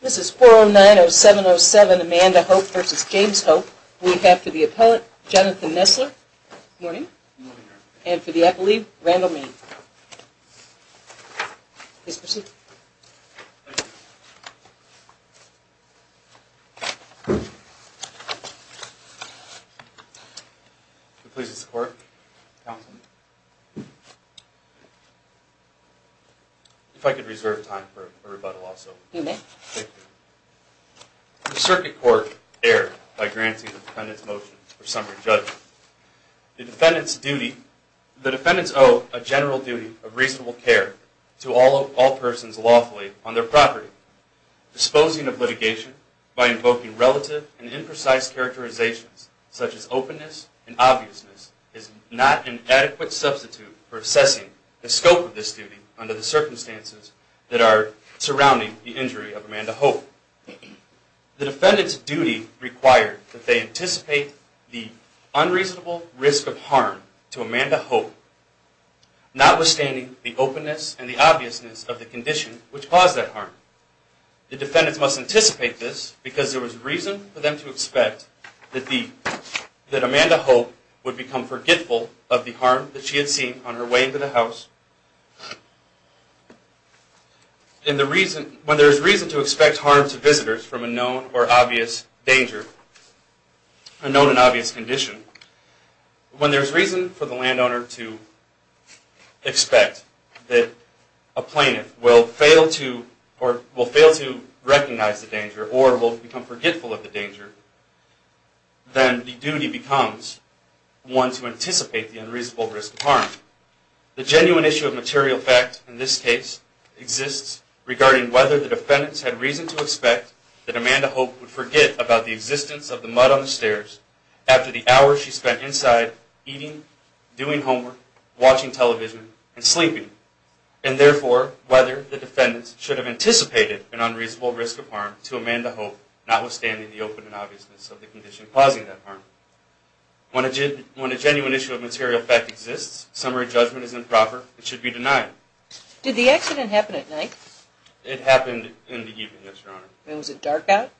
This is 409-0707 Amanda Hope v. James Hope. We have for the appellate, Jonathan Nessler. Good morning. And for the appellee, Randall Mayne. Please proceed. If I could reserve time for a rebuttal also. You may. The circuit court erred by granting the defendant's motion for summary judgment. The defendant's duty, the defendant's owe a general duty of reasonable care to all persons lawfully on their property. Disposing of litigation by invoking relative and imprecise characterizations such as openness and obviousness is not an adequate substitute for assessing the scope of this duty under the circumstances that are surrounding the injury of Amanda Hope. The defendant's duty required that they anticipate the unreasonable risk of harm to Amanda Hope, notwithstanding the openness and the obviousness of the condition which caused that harm. The defendants must anticipate this because there was reason for them to expect that Amanda Hope would become forgetful of the harm that she had seen on her way into the house. When there is reason to expect harm to visitors from a known or obvious danger, a known and obvious condition, when there is reason for the landowner to expect that a plaintiff will fail to recognize the danger or will become forgetful of the danger, then the duty becomes one to anticipate the unreasonable risk of harm. The genuine issue of material fact in this case exists regarding whether the defendants had reason to expect that Amanda Hope would forget about the existence of the mud on the stairs after the hours she spent inside eating, doing homework, watching television, and sleeping. And therefore, whether the defendants should have anticipated an unreasonable risk of harm to Amanda Hope, notwithstanding the openness and obviousness of the condition causing that harm. When a genuine issue of material fact exists, summary judgment is improper. It should be denied. Did the accident happen at night? It happened in the evening, yes, Your Honor. And was it dark out?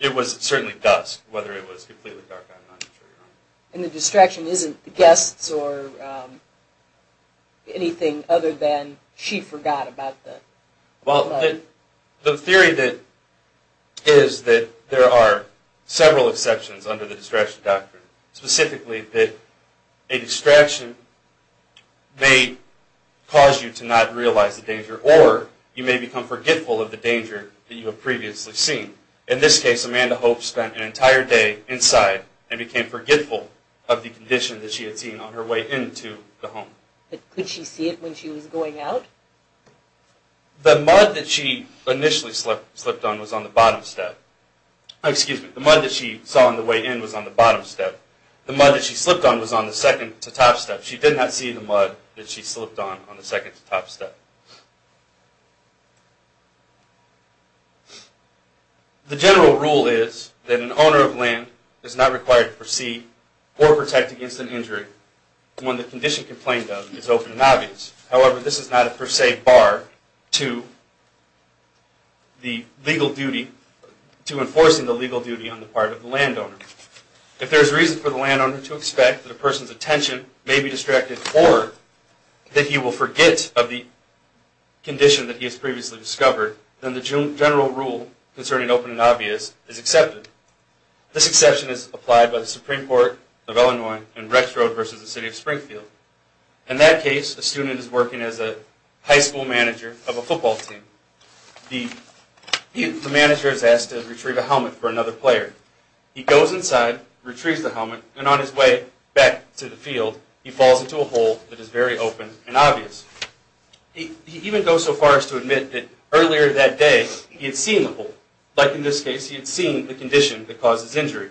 It was certainly dusk, whether it was completely dark out or not, I'm not sure, Your Honor. And the distraction isn't guests or anything other than she forgot about the mud? Well, the theory is that there are several exceptions under the distraction doctrine, specifically that a distraction may cause you to not realize the danger or you may become forgetful of the danger that you have previously seen. In this case, Amanda Hope spent an entire day inside and became forgetful of the condition that she had seen on her way into the home. But could she see it when she was going out? The mud that she initially slipped on was on the bottom step. Excuse me, the mud that she saw on the way in was on the bottom step. The mud that she slipped on was on the second-to-top step. She did not see the mud that she slipped on on the second-to-top step. The general rule is that an owner of land is not required to proceed or protect against an injury when the condition complained of is open and obvious. However, this is not a per se bar to enforcing the legal duty on the part of the landowner. If there is reason for the landowner to expect that a person's attention may be distracted or that he will forget of the condition that he has previously discovered, then the general rule concerning open and obvious is accepted. This exception is applied by the Supreme Court of Illinois in Rex Road versus the City of Springfield. In that case, a student is working as a high school manager of a football team. The manager is asked to retrieve a helmet for another player. He goes inside, retrieves the helmet, and on his way back to the field, he falls into a hole that is very open and obvious. He even goes so far as to admit that earlier that day he had seen the hole. Like in this case, he had seen the condition that causes injury.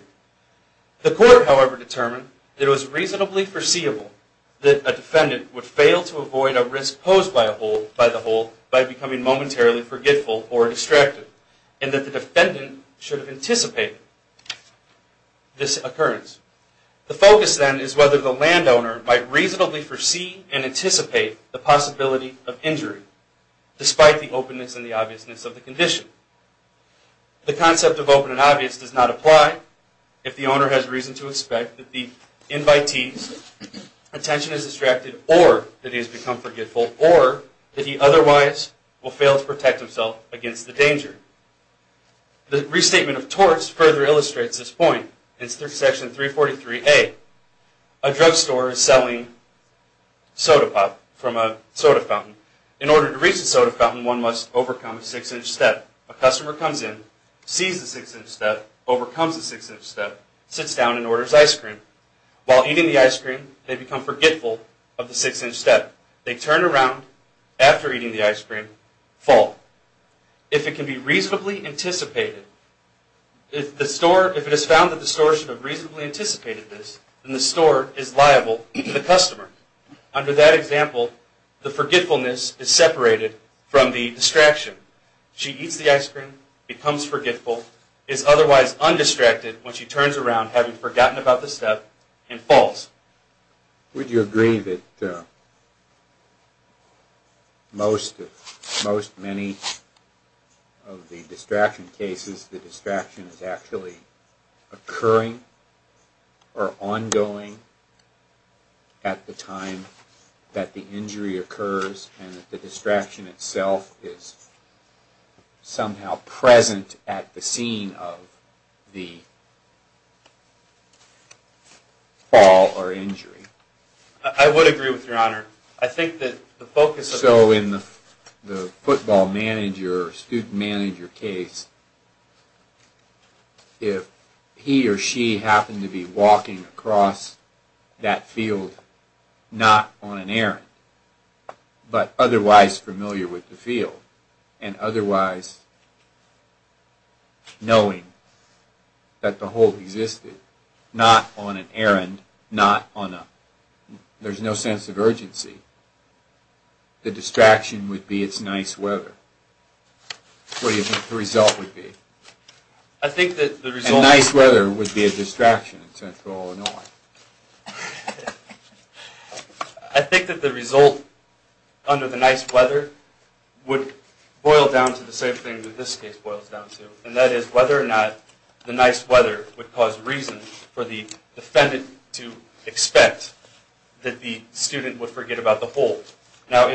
The court, however, determined that it was reasonably foreseeable that a defendant would fail to avoid a risk posed by the hole by becoming momentarily forgetful or distracted, and that the defendant should have anticipated this occurrence. The focus, then, is whether the landowner might reasonably foresee and anticipate the possibility of injury, despite the openness and the obviousness of the condition. The concept of open and obvious does not apply if the owner has reason to expect that the invitee's attention is distracted or that he has become forgetful or that he otherwise will fail to protect himself against the danger. The restatement of torts further illustrates this point. In Section 343A, a drugstore is selling soda pop from a soda fountain. In order to reach the soda fountain, one must overcome a six-inch step. A customer comes in, sees the six-inch step, overcomes the six-inch step, sits down, and orders ice cream. While eating the ice cream, they become forgetful of the six-inch step. They turn around after eating the ice cream, fall. If it can be reasonably anticipated, if it is found that the store should have reasonably anticipated this, then the store is liable to the customer. Under that example, the forgetfulness is separated from the distraction. She eats the ice cream, becomes forgetful, is otherwise undistracted when she turns around, having forgotten about the step, and falls. Would you agree that most many of the distraction cases, the distraction is actually occurring or ongoing at the time that the injury occurs, and that the distraction itself is somehow present at the scene of the fall or injury? I would agree with Your Honor. So in the football manager or student manager case, if he or she happened to be walking across that field not on an errand, but otherwise familiar with the field, and otherwise knowing that the hole existed, not on an errand, not on a... there's no sense of urgency, the distraction would be it's nice weather. What do you think the result would be? I think that the result... A nice weather would be a distraction in Central Illinois. I think that the result under the nice weather would boil down to the same thing that this case boils down to, and that is whether or not the nice weather would cause reason for the defendant to expect that the student would forget about the hole.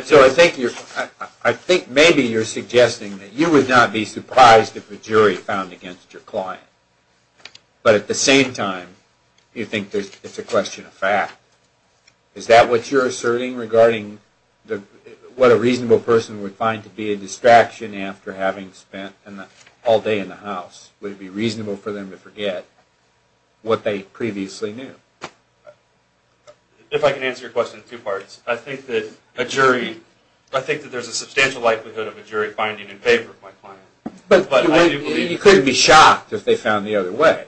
So I think maybe you're suggesting that you would not be surprised if a jury found against your client, but at the same time you think it's a question of fact. Is that what you're asserting regarding what a reasonable person would find to be a distraction after having spent all day in the house? Would it be reasonable for them to forget what they previously knew? If I can answer your question in two parts. I think that a jury... I think that there's a substantial likelihood of a jury finding in favor of my client. But you couldn't be shocked if they found the other way.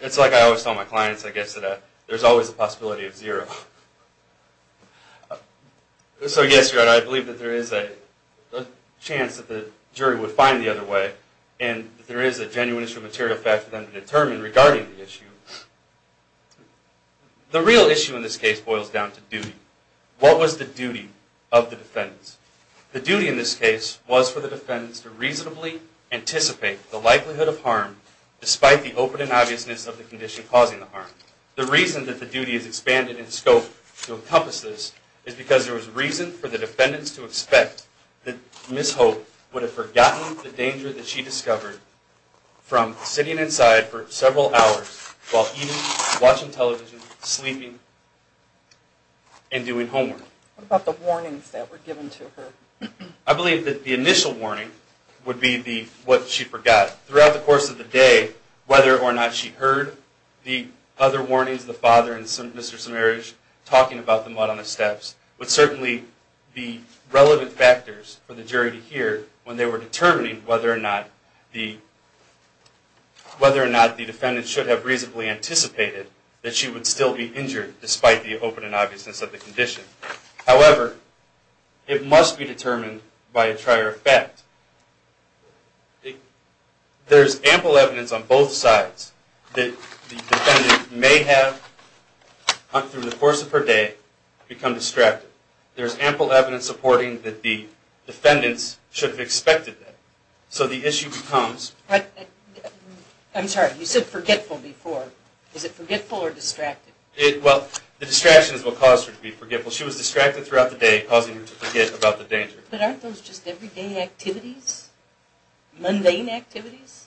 It's like I always tell my clients, I guess, that there's always a possibility of zero. So yes, your honor, I believe that there is a chance that the jury would find the other way, and that there is a genuine issue of material fact for them to determine regarding the issue. The real issue in this case boils down to duty. What was the duty of the defendants? The duty in this case was for the defendants to reasonably anticipate the likelihood of harm despite the open and obviousness of the condition causing the harm. The reason that the duty is expanded in scope to encompass this is because there was reason for the defendants to expect that Ms. Hope would have forgotten the danger that she discovered from sitting inside for several hours while eating, watching television, sleeping, and doing homework. What about the warnings that were given to her? I believe that the initial warning would be what she forgot. Throughout the course of the day, whether or not she heard the other warnings, the father and Mr. Samarich talking about the mud on the steps, would certainly be relevant factors for the jury to hear when they were determining whether or not the defendants should have reasonably anticipated that she would still be injured despite the open and obviousness of the condition. However, it must be determined by a trier effect. There is ample evidence on both sides that the defendant may have, through the course of her day, become distracted. There is ample evidence supporting that the defendants should have expected that. So the issue becomes... I'm sorry, you said forgetful before. Is it forgetful or distracted? Well, the distraction is what caused her to be forgetful. She was distracted throughout the day, causing her to forget about the danger. But aren't those just everyday activities? Mundane activities?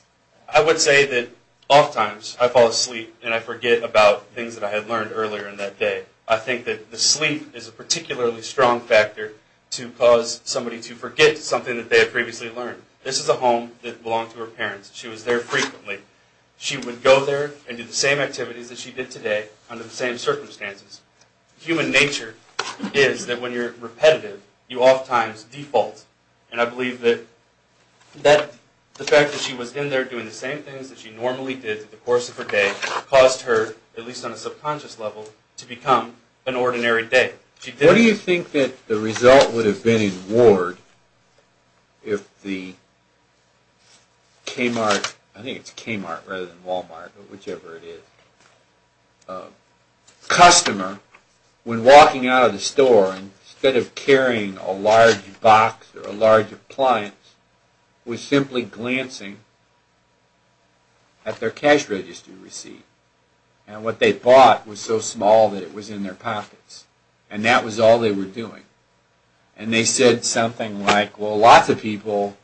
I would say that oftentimes I fall asleep and I forget about things that I had learned earlier in that day. I think that the sleep is a particularly strong factor to cause somebody to forget something that they had previously learned. This is a home that belonged to her parents. She was there frequently. She would go there and do the same activities that she did today under the same circumstances. Human nature is that when you're repetitive, you oftentimes default. And I believe that the fact that she was in there doing the same things that she normally did through the course of her day caused her, at least on a subconscious level, to become an ordinary day. What do you think that the result would have been in Ward if the Kmart, I think it's Kmart rather than Walmart, but whichever it is, customer, when walking out of the store, instead of carrying a large box or a large appliance, was simply glancing at their cash register receipt. And what they bought was so small that it was in their pockets. And that was all they were doing. And they said something like, well, lots of people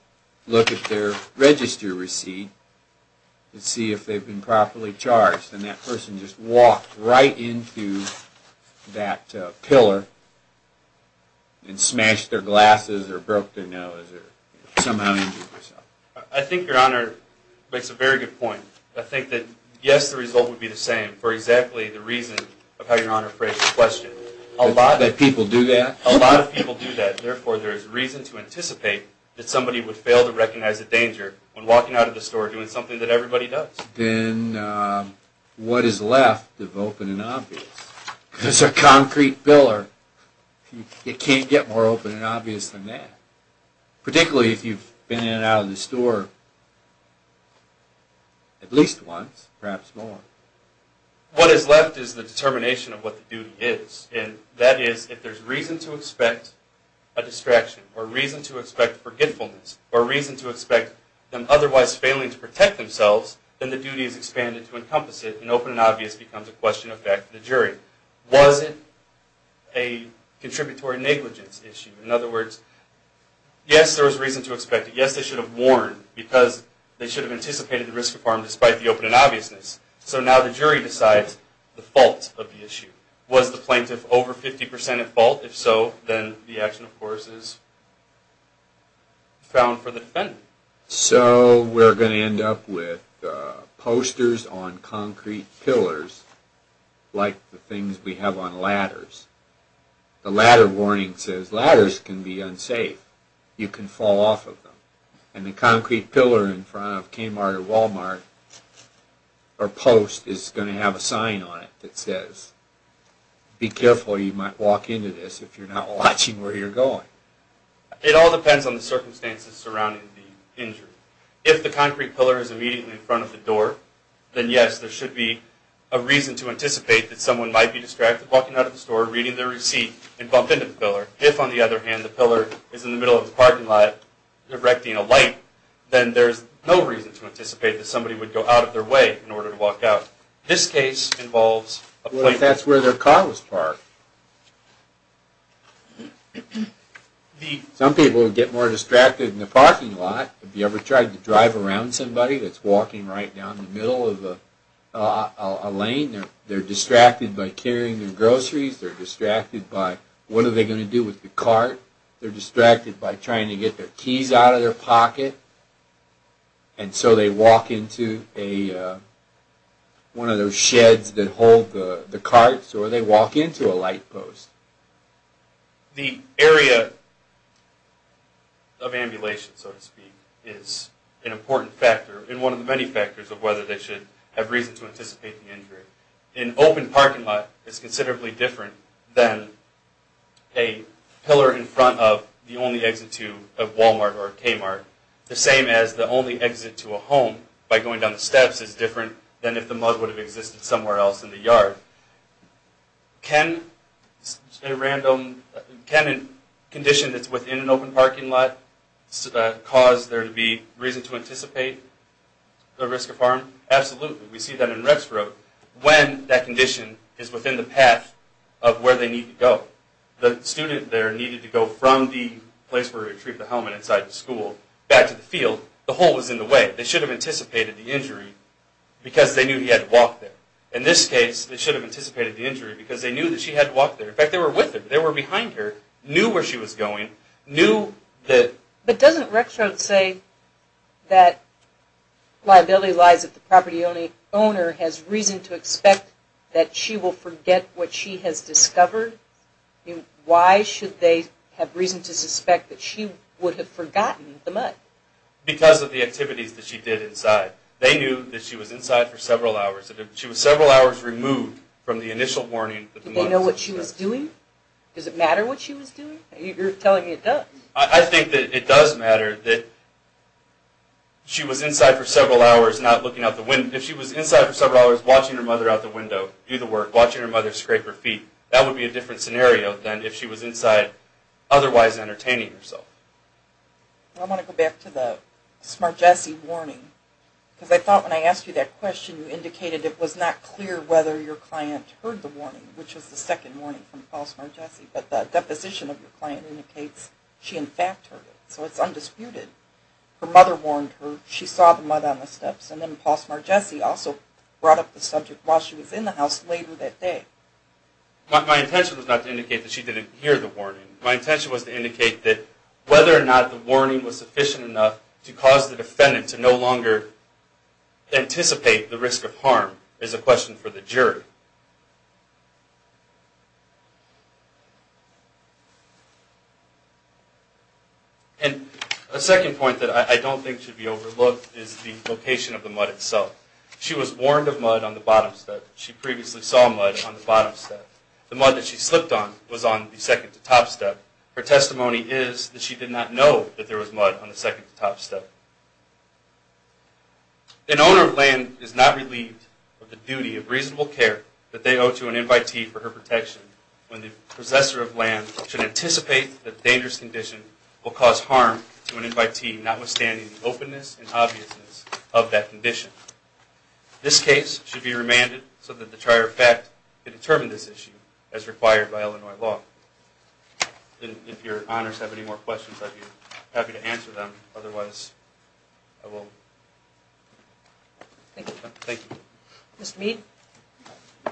look at their register receipt to see if they've been properly charged. And that person just walked right into that pillar and smashed their glasses or broke their nose or somehow injured themselves. I think Your Honor makes a very good point. I think that, yes, the result would be the same for exactly the reason of how Your Honor phrased the question. That people do that? A lot of people do that. Therefore, there is reason to anticipate that somebody would fail to recognize the danger when walking out of the store doing something that everybody does. Then what is left of open and obvious? Because a concrete pillar, it can't get more open and obvious than that. Particularly if you've been in and out of the store at least once, perhaps more. What is left is the determination of what the duty is. And that is, if there's reason to expect a distraction or reason to expect forgetfulness or reason to expect them otherwise failing to protect themselves, then the duty is expanded to encompass it. And open and obvious becomes a question of back to the jury. Was it a contributory negligence issue? In other words, yes, there was reason to expect it. Yes, they should have warned because they should have anticipated the risk of harm despite the open and obviousness. So now the jury decides the fault of the issue. Was the plaintiff over 50% at fault? If so, then the action, of course, is found for the defendant. So we're going to end up with posters on concrete pillars like the things we have on ladders. The ladder warning says ladders can be unsafe. You can fall off of them. And the concrete pillar in front of Kmart or Walmart or Post is going to have a sign on it that says, be careful, you might walk into this if you're not watching where you're going. It all depends on the circumstances surrounding the injury. If the concrete pillar is immediately in front of the door, then yes, there should be a reason to anticipate that someone might be distracted walking out of the store, reading their receipt, and bump into the pillar. If, on the other hand, the pillar is in the middle of the parking lot, directing a light, then there's no reason to anticipate that somebody would go out of their way in order to walk out. This case involves a plaintiff. What if that's where their car was parked? Some people would get more distracted in the parking lot. Have you ever tried to drive around somebody that's walking right down the middle of a lane? They're distracted by carrying their groceries. They're distracted by what are they going to do with the cart. They're distracted by trying to get their keys out of their pocket. And so they walk into one of those sheds that hold the carts, or they walk into a light post. The area of ambulation, so to speak, is an important factor and one of the many factors of whether they should have reason to anticipate the injury. An open parking lot is considerably different than a pillar in front of the only exit to a Walmart or a Kmart, the same as the only exit to a home by going down the steps is different than if the mud would have existed somewhere else in the yard. Can a condition that's within an open parking lot cause there to be reason to anticipate the risk of harm? Absolutely. We see that in Rexroad when that condition is within the path of where they need to go. The student there needed to go from the place where he retrieved the helmet inside the school back to the field. The hole was in the way. They should have anticipated the injury because they knew he had to walk there. In this case, they should have anticipated the injury because they knew that she had to walk there. In fact, they were with her. They were behind her, knew where she was going, knew that... But doesn't Rexroad say that liability lies if the property owner has reason to expect that she will forget what she has discovered? Why should they have reason to suspect that she would have forgotten the mud? Because of the activities that she did inside. They knew that she was inside for several hours. She was several hours removed from the initial warning that the mud was... Did they know what she was doing? Does it matter what she was doing? You're telling me it does. I think that it does matter that she was inside for several hours not looking out the window. If she was inside for several hours watching her mother out the window do the work, watching her mother scrape her feet, that would be a different scenario than if she was inside otherwise entertaining herself. I want to go back to the Smart Jesse warning. Because I thought when I asked you that question, you indicated it was not clear whether your client heard the warning, which was the second warning from Paul Smart Jesse. But the deposition of your client indicates she in fact heard it, so it's undisputed. Her mother warned her, she saw the mud on the steps, and then Paul Smart Jesse also brought up the subject while she was in the house later that day. My intention was not to indicate that she didn't hear the warning. My intention was to indicate that whether or not the warning was sufficient enough to cause the defendant to no longer anticipate the risk of harm is a question for the jury. And a second point that I don't think should be overlooked is the location of the mud itself. She was warned of mud on the bottom step. She previously saw mud on the bottom step. The mud that she slipped on was on the second to top step. Her testimony is that she did not know that there was mud on the second to top step. An owner of land is not relieved of the duty of reasonable care that they owe to an invitee for her protection when the possessor of land should anticipate that a dangerous condition will cause harm to an invitee, notwithstanding the openness and obviousness of that condition. This case should be remanded so that the trier of fact can determine this issue as required by Illinois law. If your honors have any more questions, I'd be happy to answer them. Otherwise, I will... Thank you. Thank you. Mr. Mead. Thank you.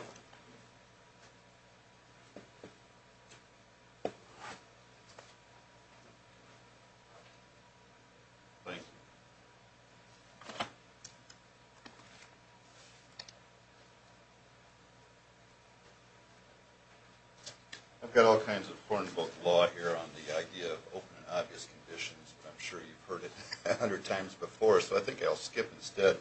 Thank you. I've got all kinds of porn book law here on the idea of open and obvious conditions, but I'm sure you've heard it a hundred times before, so I think I'll skip instead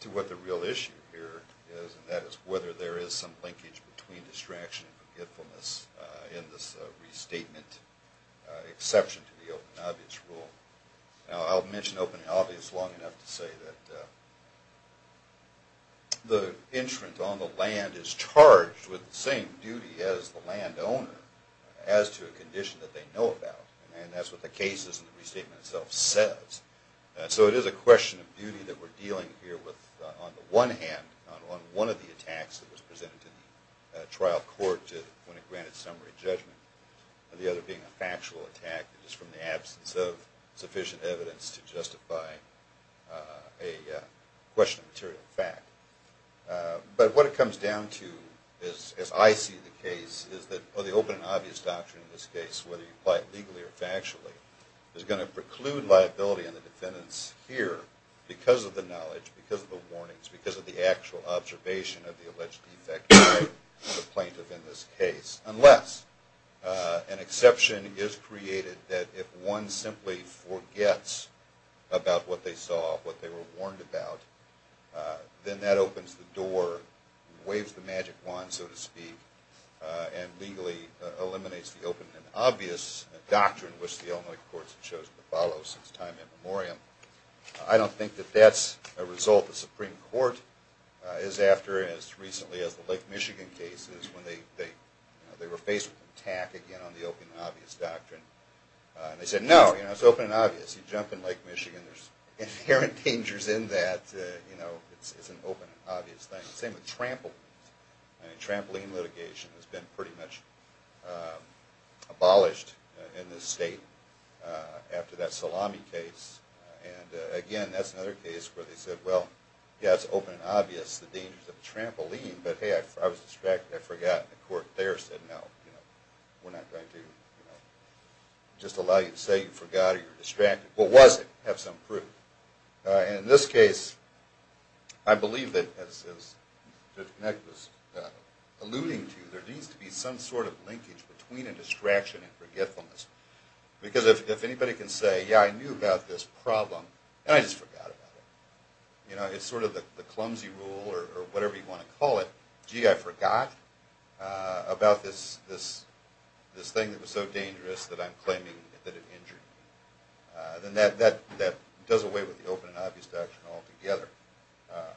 to what the real issue here is, and that is whether there is some linkage between distraction and forgetfulness in this restatement exception to the open and obvious rule. Now, I'll mention open and obvious long enough to say that the entrant on the land is charged with the same duty as the landowner as to a condition that they know about, and that's what the case is and the restatement itself says. So it is a question of duty that we're dealing here with on the one hand, on one of the attacks that was presented to the trial court when it granted summary judgment, and the other being a factual attack that is from the absence of sufficient evidence to justify a question of material fact. But what it comes down to, as I see the case, is that the open and obvious doctrine in this case, whether you apply it legally or factually, is going to preclude liability on the defendants here because of the knowledge, because of the warnings, because of the actual observation of the alleged defect by the plaintiff in this case, unless an exception is created that if one simply forgets about what they saw, what they were warned about, then that opens the door, waves the magic wand, so to speak, and legally eliminates the open and obvious doctrine, which the Illinois courts have chosen to follow since time immemorial. I don't think that that's a result the Supreme Court is after as recently as the Lake Michigan cases when they were faced with an attack, again, on the open and obvious doctrine. They said, no, it's open and obvious. You jump in Lake Michigan, there's inherent dangers in that. It's an open and obvious thing. The same with trampoline. Trampoline litigation has been pretty much abolished in this state after that Salami case. And again, that's another case where they said, well, yeah, it's open and obvious, the dangers of a trampoline, but hey, I was distracted, I forgot, and the court there said, no, we're not going to just allow you to say you forgot or you're distracted. What was it? Have some proof. And in this case, I believe that, as Nick was alluding to, there needs to be some sort of linkage between a distraction and forgetfulness. Because if anybody can say, yeah, I knew about this problem, and I just forgot about it. You know, it's sort of the clumsy rule or whatever you want to call it, gee, I forgot about this thing that was so dangerous that I'm claiming that it injured me. Then that does away with the open and obvious doctrine altogether.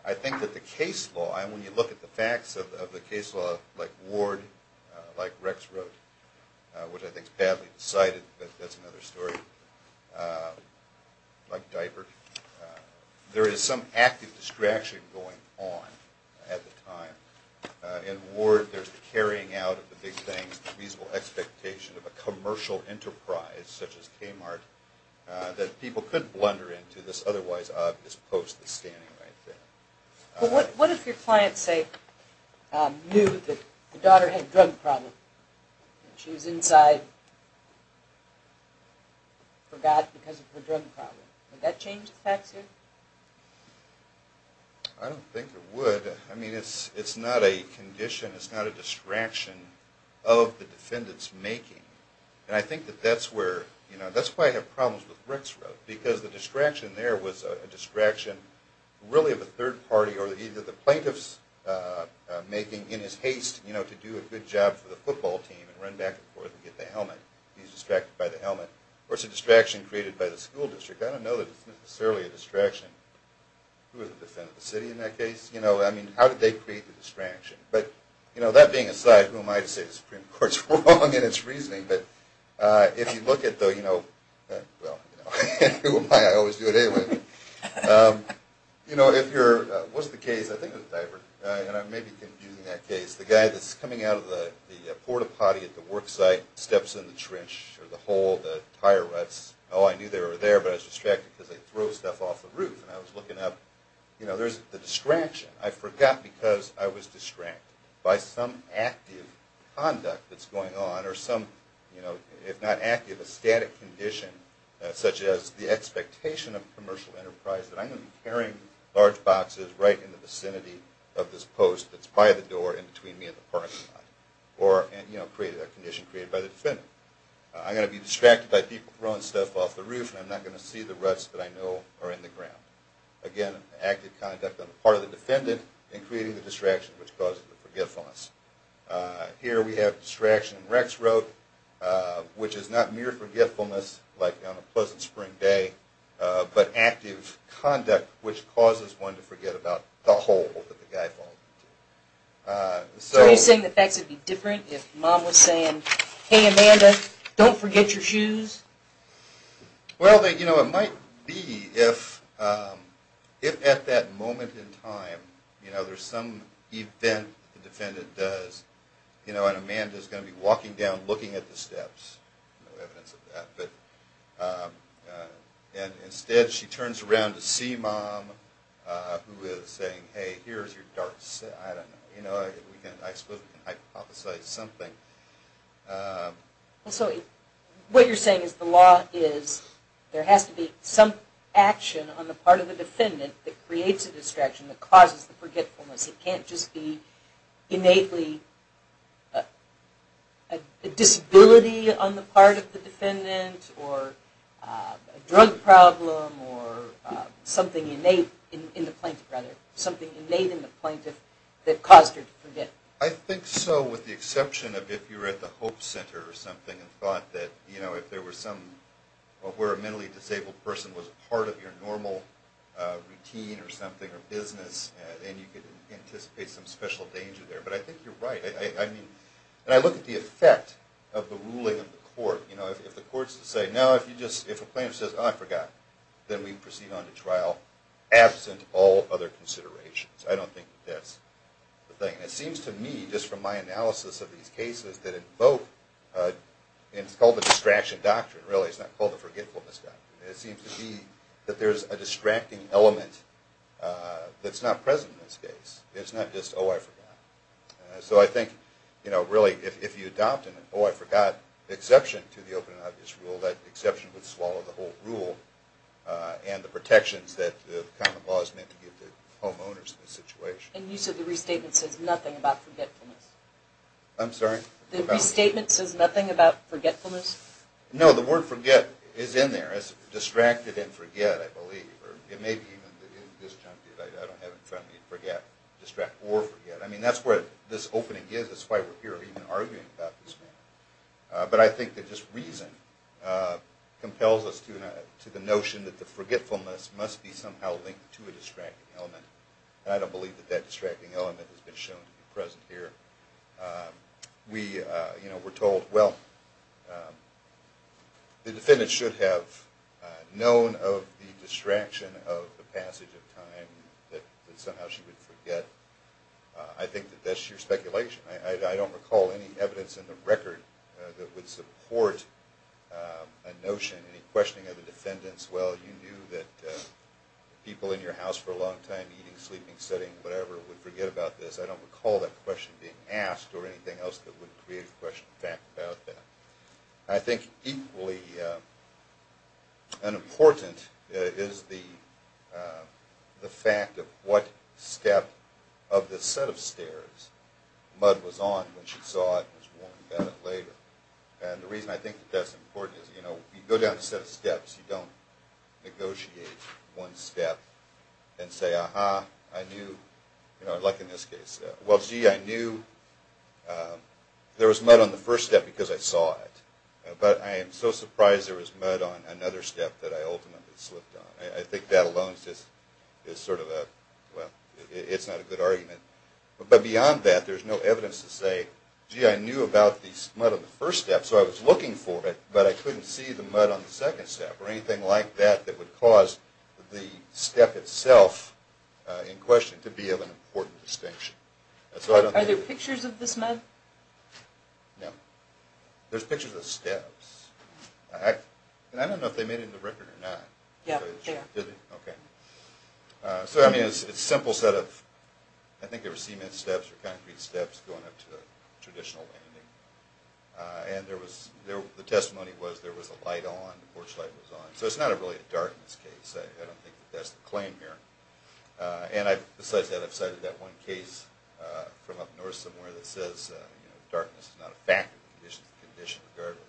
I think that the case law, and when you look at the facts of the case law, like Ward, like Rex wrote, which I think is badly cited, but that's another story, like Diaper, there is some active distraction going on at the time. In Ward, there's the carrying out of the big things, the reasonable expectation of a commercial enterprise, such as Kmart, that people couldn't blunder into this otherwise obvious post that's standing right there. But what if your client, say, knew that the daughter had a drug problem, and she was inside, forgot because of her drug problem? Would that change the facts here? I don't think it would. I mean, it's not a condition, it's not a distraction of the defendant's making. And I think that that's where, you know, that's why I have problems with Rex wrote, because the distraction there was a distraction really of a third party, or either the plaintiff's making in his haste to do a good job for the football team and run back and forth and get the helmet. He's distracted by the helmet. Or it's a distraction created by the school district. I don't know that it's necessarily a distraction. Who was the defendant, the city in that case? I mean, how did they create the distraction? But that being aside, who am I to say the Supreme Court's wrong in its reasoning, but if you look at the, you know, well, who am I? I always do it anyway. You know, if you're, what's the case? I think it was Divert, and I may be confusing that case. The guy that's coming out of the porta potty at the work site, steps in the trench or the hole, the tire ruts. Oh, I knew they were there, but I was distracted because they throw stuff off the roof. And I was looking up. You know, there's the distraction. I forgot because I was distracted by some active conduct that's going on or some, you know, if not active, a static condition such as the expectation of commercial enterprise that I'm going to be carrying large boxes right in the vicinity of this post that's by the door in between me and the parking lot. Or, you know, create a condition created by the defendant. I'm going to be distracted by people throwing stuff off the roof, and I'm not going to see the ruts that I know are in the ground. Again, active conduct on the part of the defendant in creating the distraction, which causes the forgetfulness. Here we have distraction in Rex Road, which is not mere forgetfulness like on a pleasant spring day, but active conduct which causes one to forget about the hole that the guy fell into. So are you saying the facts would be different if Mom was saying, hey, Amanda, don't forget your shoes? Well, you know, it might be if at that moment in time, you know, after some event the defendant does, you know, and Amanda's going to be walking down looking at the steps. No evidence of that, but instead she turns around to see Mom, who is saying, hey, here's your darts. I don't know. You know, I suppose we can hypothesize something. So what you're saying is the law is there has to be some action on the part of the defendant that creates a distraction, that causes the forgetfulness. It can't just be innately a disability on the part of the defendant or a drug problem or something innate in the plaintiff, rather, something innate in the plaintiff that caused her to forget. I think so, with the exception of if you were at the Hope Center or something and thought that, you know, if there were some, where a mentally disabled person was part of your normal routine or something or business, then you could anticipate some special danger there. But I think you're right. I mean, when I look at the effect of the ruling of the court, you know, if the court is to say, no, if a plaintiff says, oh, I forgot, then we proceed on to trial absent all other considerations. I don't think that's the thing. It seems to me, just from my analysis of these cases, that in both, and it's called the distraction doctrine, really. It's not called the forgetfulness doctrine. It seems to me that there's a distracting element that's not present in this case. It's not just, oh, I forgot. So I think, you know, really, if you adopt an oh, I forgot exception to the open and obvious rule, that exception would swallow the whole rule and the protections that the common law is meant to give to homeowners in this situation. And you said the restatement says nothing about forgetfulness. I'm sorry? The restatement says nothing about forgetfulness? No, the word forget is in there. It's distracted and forget, I believe. Or it may be even in this juncture that I don't have in front of me forget, distract or forget. I mean, that's what this opening is. That's why we're here even arguing about this matter. But I think that this reason compels us to the notion that the forgetfulness must be somehow linked to a distracting element. I don't believe that that distracting element has been shown to be present here. We, you know, we're told, well, the defendant should have known of the distraction of the passage of time, that somehow she would forget. I think that that's sheer speculation. I don't recall any evidence in the record that would support a notion, any questioning of the defendants. Well, you knew that people in your house for a long time, eating, sleeping, sitting, whatever, would forget about this. I don't recall that question being asked or anything else that would create a question of fact about that. I think equally important is the fact of what step of the set of stairs Mudd was on when she saw it and was warned about it later. And the reason I think that's important is, you know, you go down a set of steps, you don't negotiate one step and say, uh-huh, I knew, you know, like in this case, well, gee, I knew there was Mudd on the first step because I saw it. But I am so surprised there was Mudd on another step that I ultimately slipped on. I think that alone is sort of a, well, it's not a good argument. But beyond that, there's no evidence to say, gee, I knew about the Mudd on the first step, so I was looking for it, but I couldn't see the Mudd on the second step or anything like that that would cause the step itself in question to be of an important distinction. Are there pictures of this Mudd? No. There's pictures of steps. I don't know if they made it in the record or not. Yeah, they are. So, I mean, it's a simple set of, I think they were cement steps or concrete steps going up to a traditional landing. And there was, the testimony was there was a light on, porch light was on. So it's not really a darkness case. I don't think that's the claim here. And besides that, I've cited that one case from up north somewhere that says, you know, darkness is not a fact, it's a condition regardless.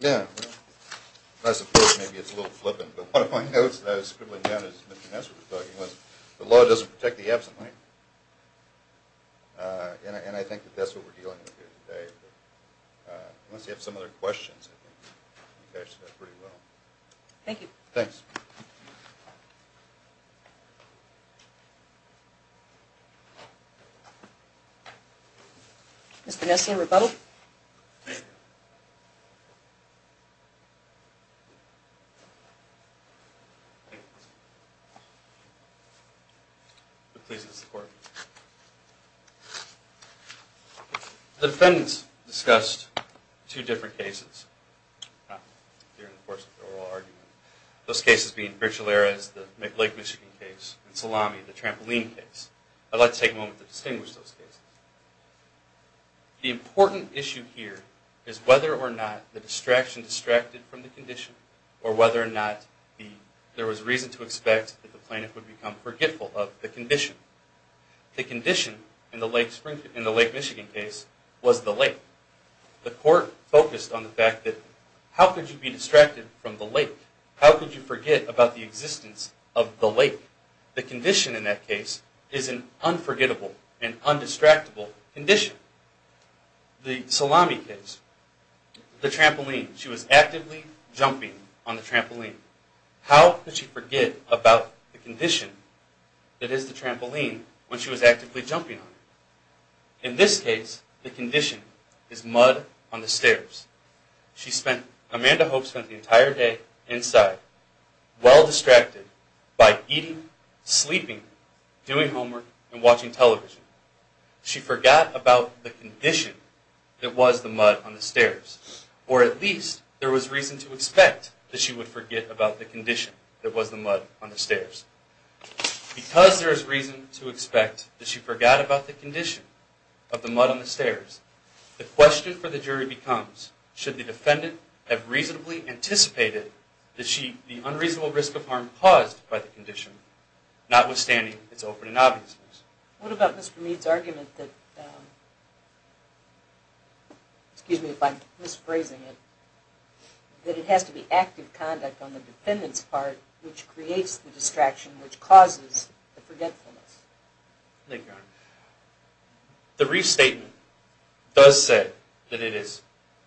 Yeah, I suppose maybe it's a little flippant, but one of my notes that I was scribbling down as Mr. Ness was talking was, the law doesn't protect the absent. And I think that's what we're dealing with here today. Unless you have some other questions, I think you guys did pretty well. Thank you. Thanks. Mr. Nessian, rebuttal. I'm pleased to support. Thank you. The defendants discussed two different cases during the course of the oral argument. Those cases being Bricholeras, the Lake Michigan case, and Salami, the trampoline case. I'd like to take a moment to distinguish those cases. The important issue here is whether or not the distraction distracted from the condition, or whether or not there was reason to expect that the plaintiff would become forgetful of the condition. The condition in the Lake Michigan case was the lake. The court focused on the fact that how could you be distracted from the lake? How could you forget about the existence of the lake? The condition in that case is an unforgettable and undistractable condition. The Salami case, the trampoline. She was actively jumping on the trampoline. How could she forget about the condition that is the trampoline when she was actively jumping on it? In this case, the condition is mud on the stairs. Amanda Hope spent the entire day inside, well distracted by eating, sleeping, doing homework, and watching television. She forgot about the condition that was the mud on the stairs. Or at least, there was reason to expect that she would forget about the condition that was the mud on the stairs. Because there is reason to expect that she forgot about the condition of the mud on the stairs, the question for the jury becomes, should the defendant have reasonably anticipated the unreasonable risk of harm caused by the condition, notwithstanding its open and obviousness? What about Mr. Meade's argument that, excuse me if I'm misphrasing it, that it has to be active conduct on the defendant's part which creates the distraction, which causes the forgetfulness? Thank you, Your Honor. The restatement does say that it is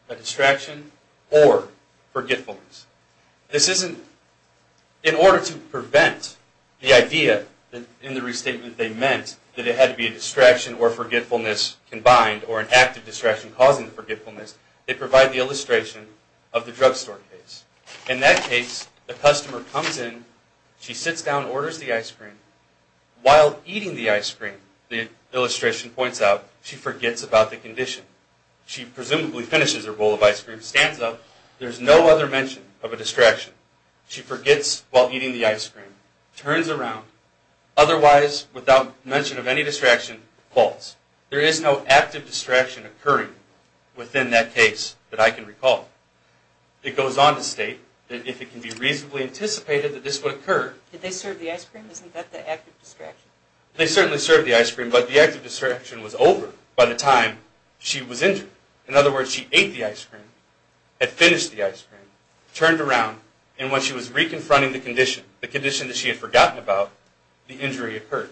a distraction or forgetfulness. In order to prevent the idea in the restatement they meant that it had to be a distraction or forgetfulness combined, or an active distraction causing the forgetfulness, they provide the illustration of the drugstore case. In that case, the customer comes in, she sits down and orders the ice cream. While eating the ice cream, the illustration points out, she forgets about the condition. She presumably finishes her bowl of ice cream, stands up. There's no other mention of a distraction. She forgets while eating the ice cream, turns around. Otherwise, without mention of any distraction, falls. There is no active distraction occurring within that case that I can recall. It goes on to state that if it can be reasonably anticipated that this would occur. Did they serve the ice cream? Isn't that the active distraction? They certainly served the ice cream, but the active distraction was over by the time she was injured. In other words, she ate the ice cream, had finished the ice cream, turned around, and when she was reconfronting the condition, the condition that she had forgotten about, the injury occurred.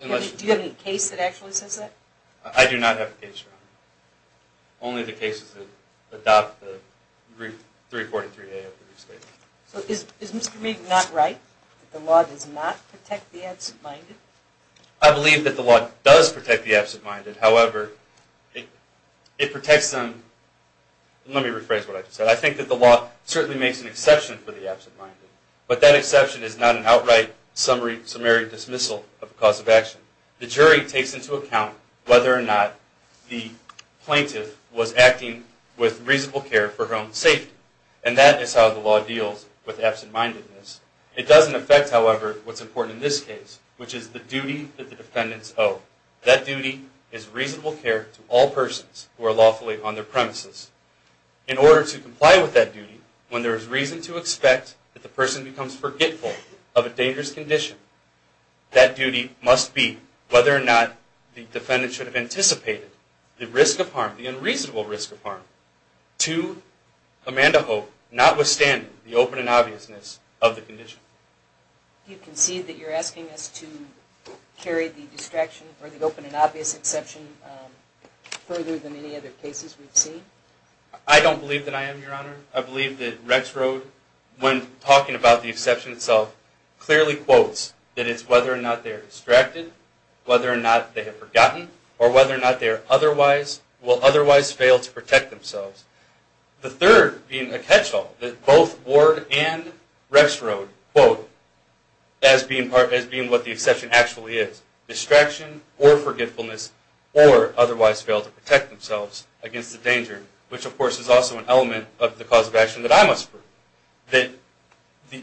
Do you have any case that actually says that? I do not have a case, Your Honor. Only the cases that adopt the brief 343A of the restatement. So is Mr. Meek not right, that the law does not protect the absent-minded? I believe that the law does protect the absent-minded. However, it protects them. Let me rephrase what I just said. I think that the law certainly makes an exception for the absent-minded, but that exception is not an outright summary dismissal of the cause of action. The jury takes into account whether or not the plaintiff was acting with reasonable care for her own safety, and that is how the law deals with absent-mindedness. It doesn't affect, however, what's important in this case, which is the duty that the defendants owe. That duty is reasonable care to all persons who are lawfully on their premises. In order to comply with that duty, when there is reason to expect that the person becomes forgetful of a dangerous condition, that duty must be whether or not the defendant should have anticipated the risk of harm, the unreasonable risk of harm to Amanda Hope, notwithstanding the open and obviousness of the condition. Do you concede that you're asking us to carry the distraction or the open and obvious exception further than any other cases we've seen? I don't believe that I am, Your Honor. I believe that Rex Road, when talking about the exception itself, clearly quotes that it's whether or not they're distracted, whether or not they have forgotten, or whether or not they will otherwise fail to protect themselves. The third being a catch-all that both Ward and Rex Road quote as being what the exception actually is, distraction or forgetfulness or otherwise fail to protect themselves against the danger, which of course is also an element of the cause of action that I must prove, that the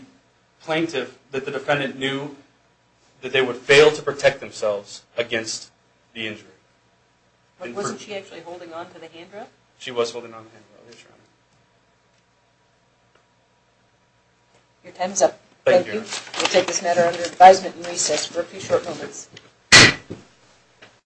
plaintiff, that the defendant knew that they would fail to protect themselves against the injury. Wasn't she actually holding on to the handrail? She was holding on to the handrail, yes, Your Honor. Your time is up. Thank you. Thank you, Your Honor. We'll take this matter under advisement and recess for a few short moments.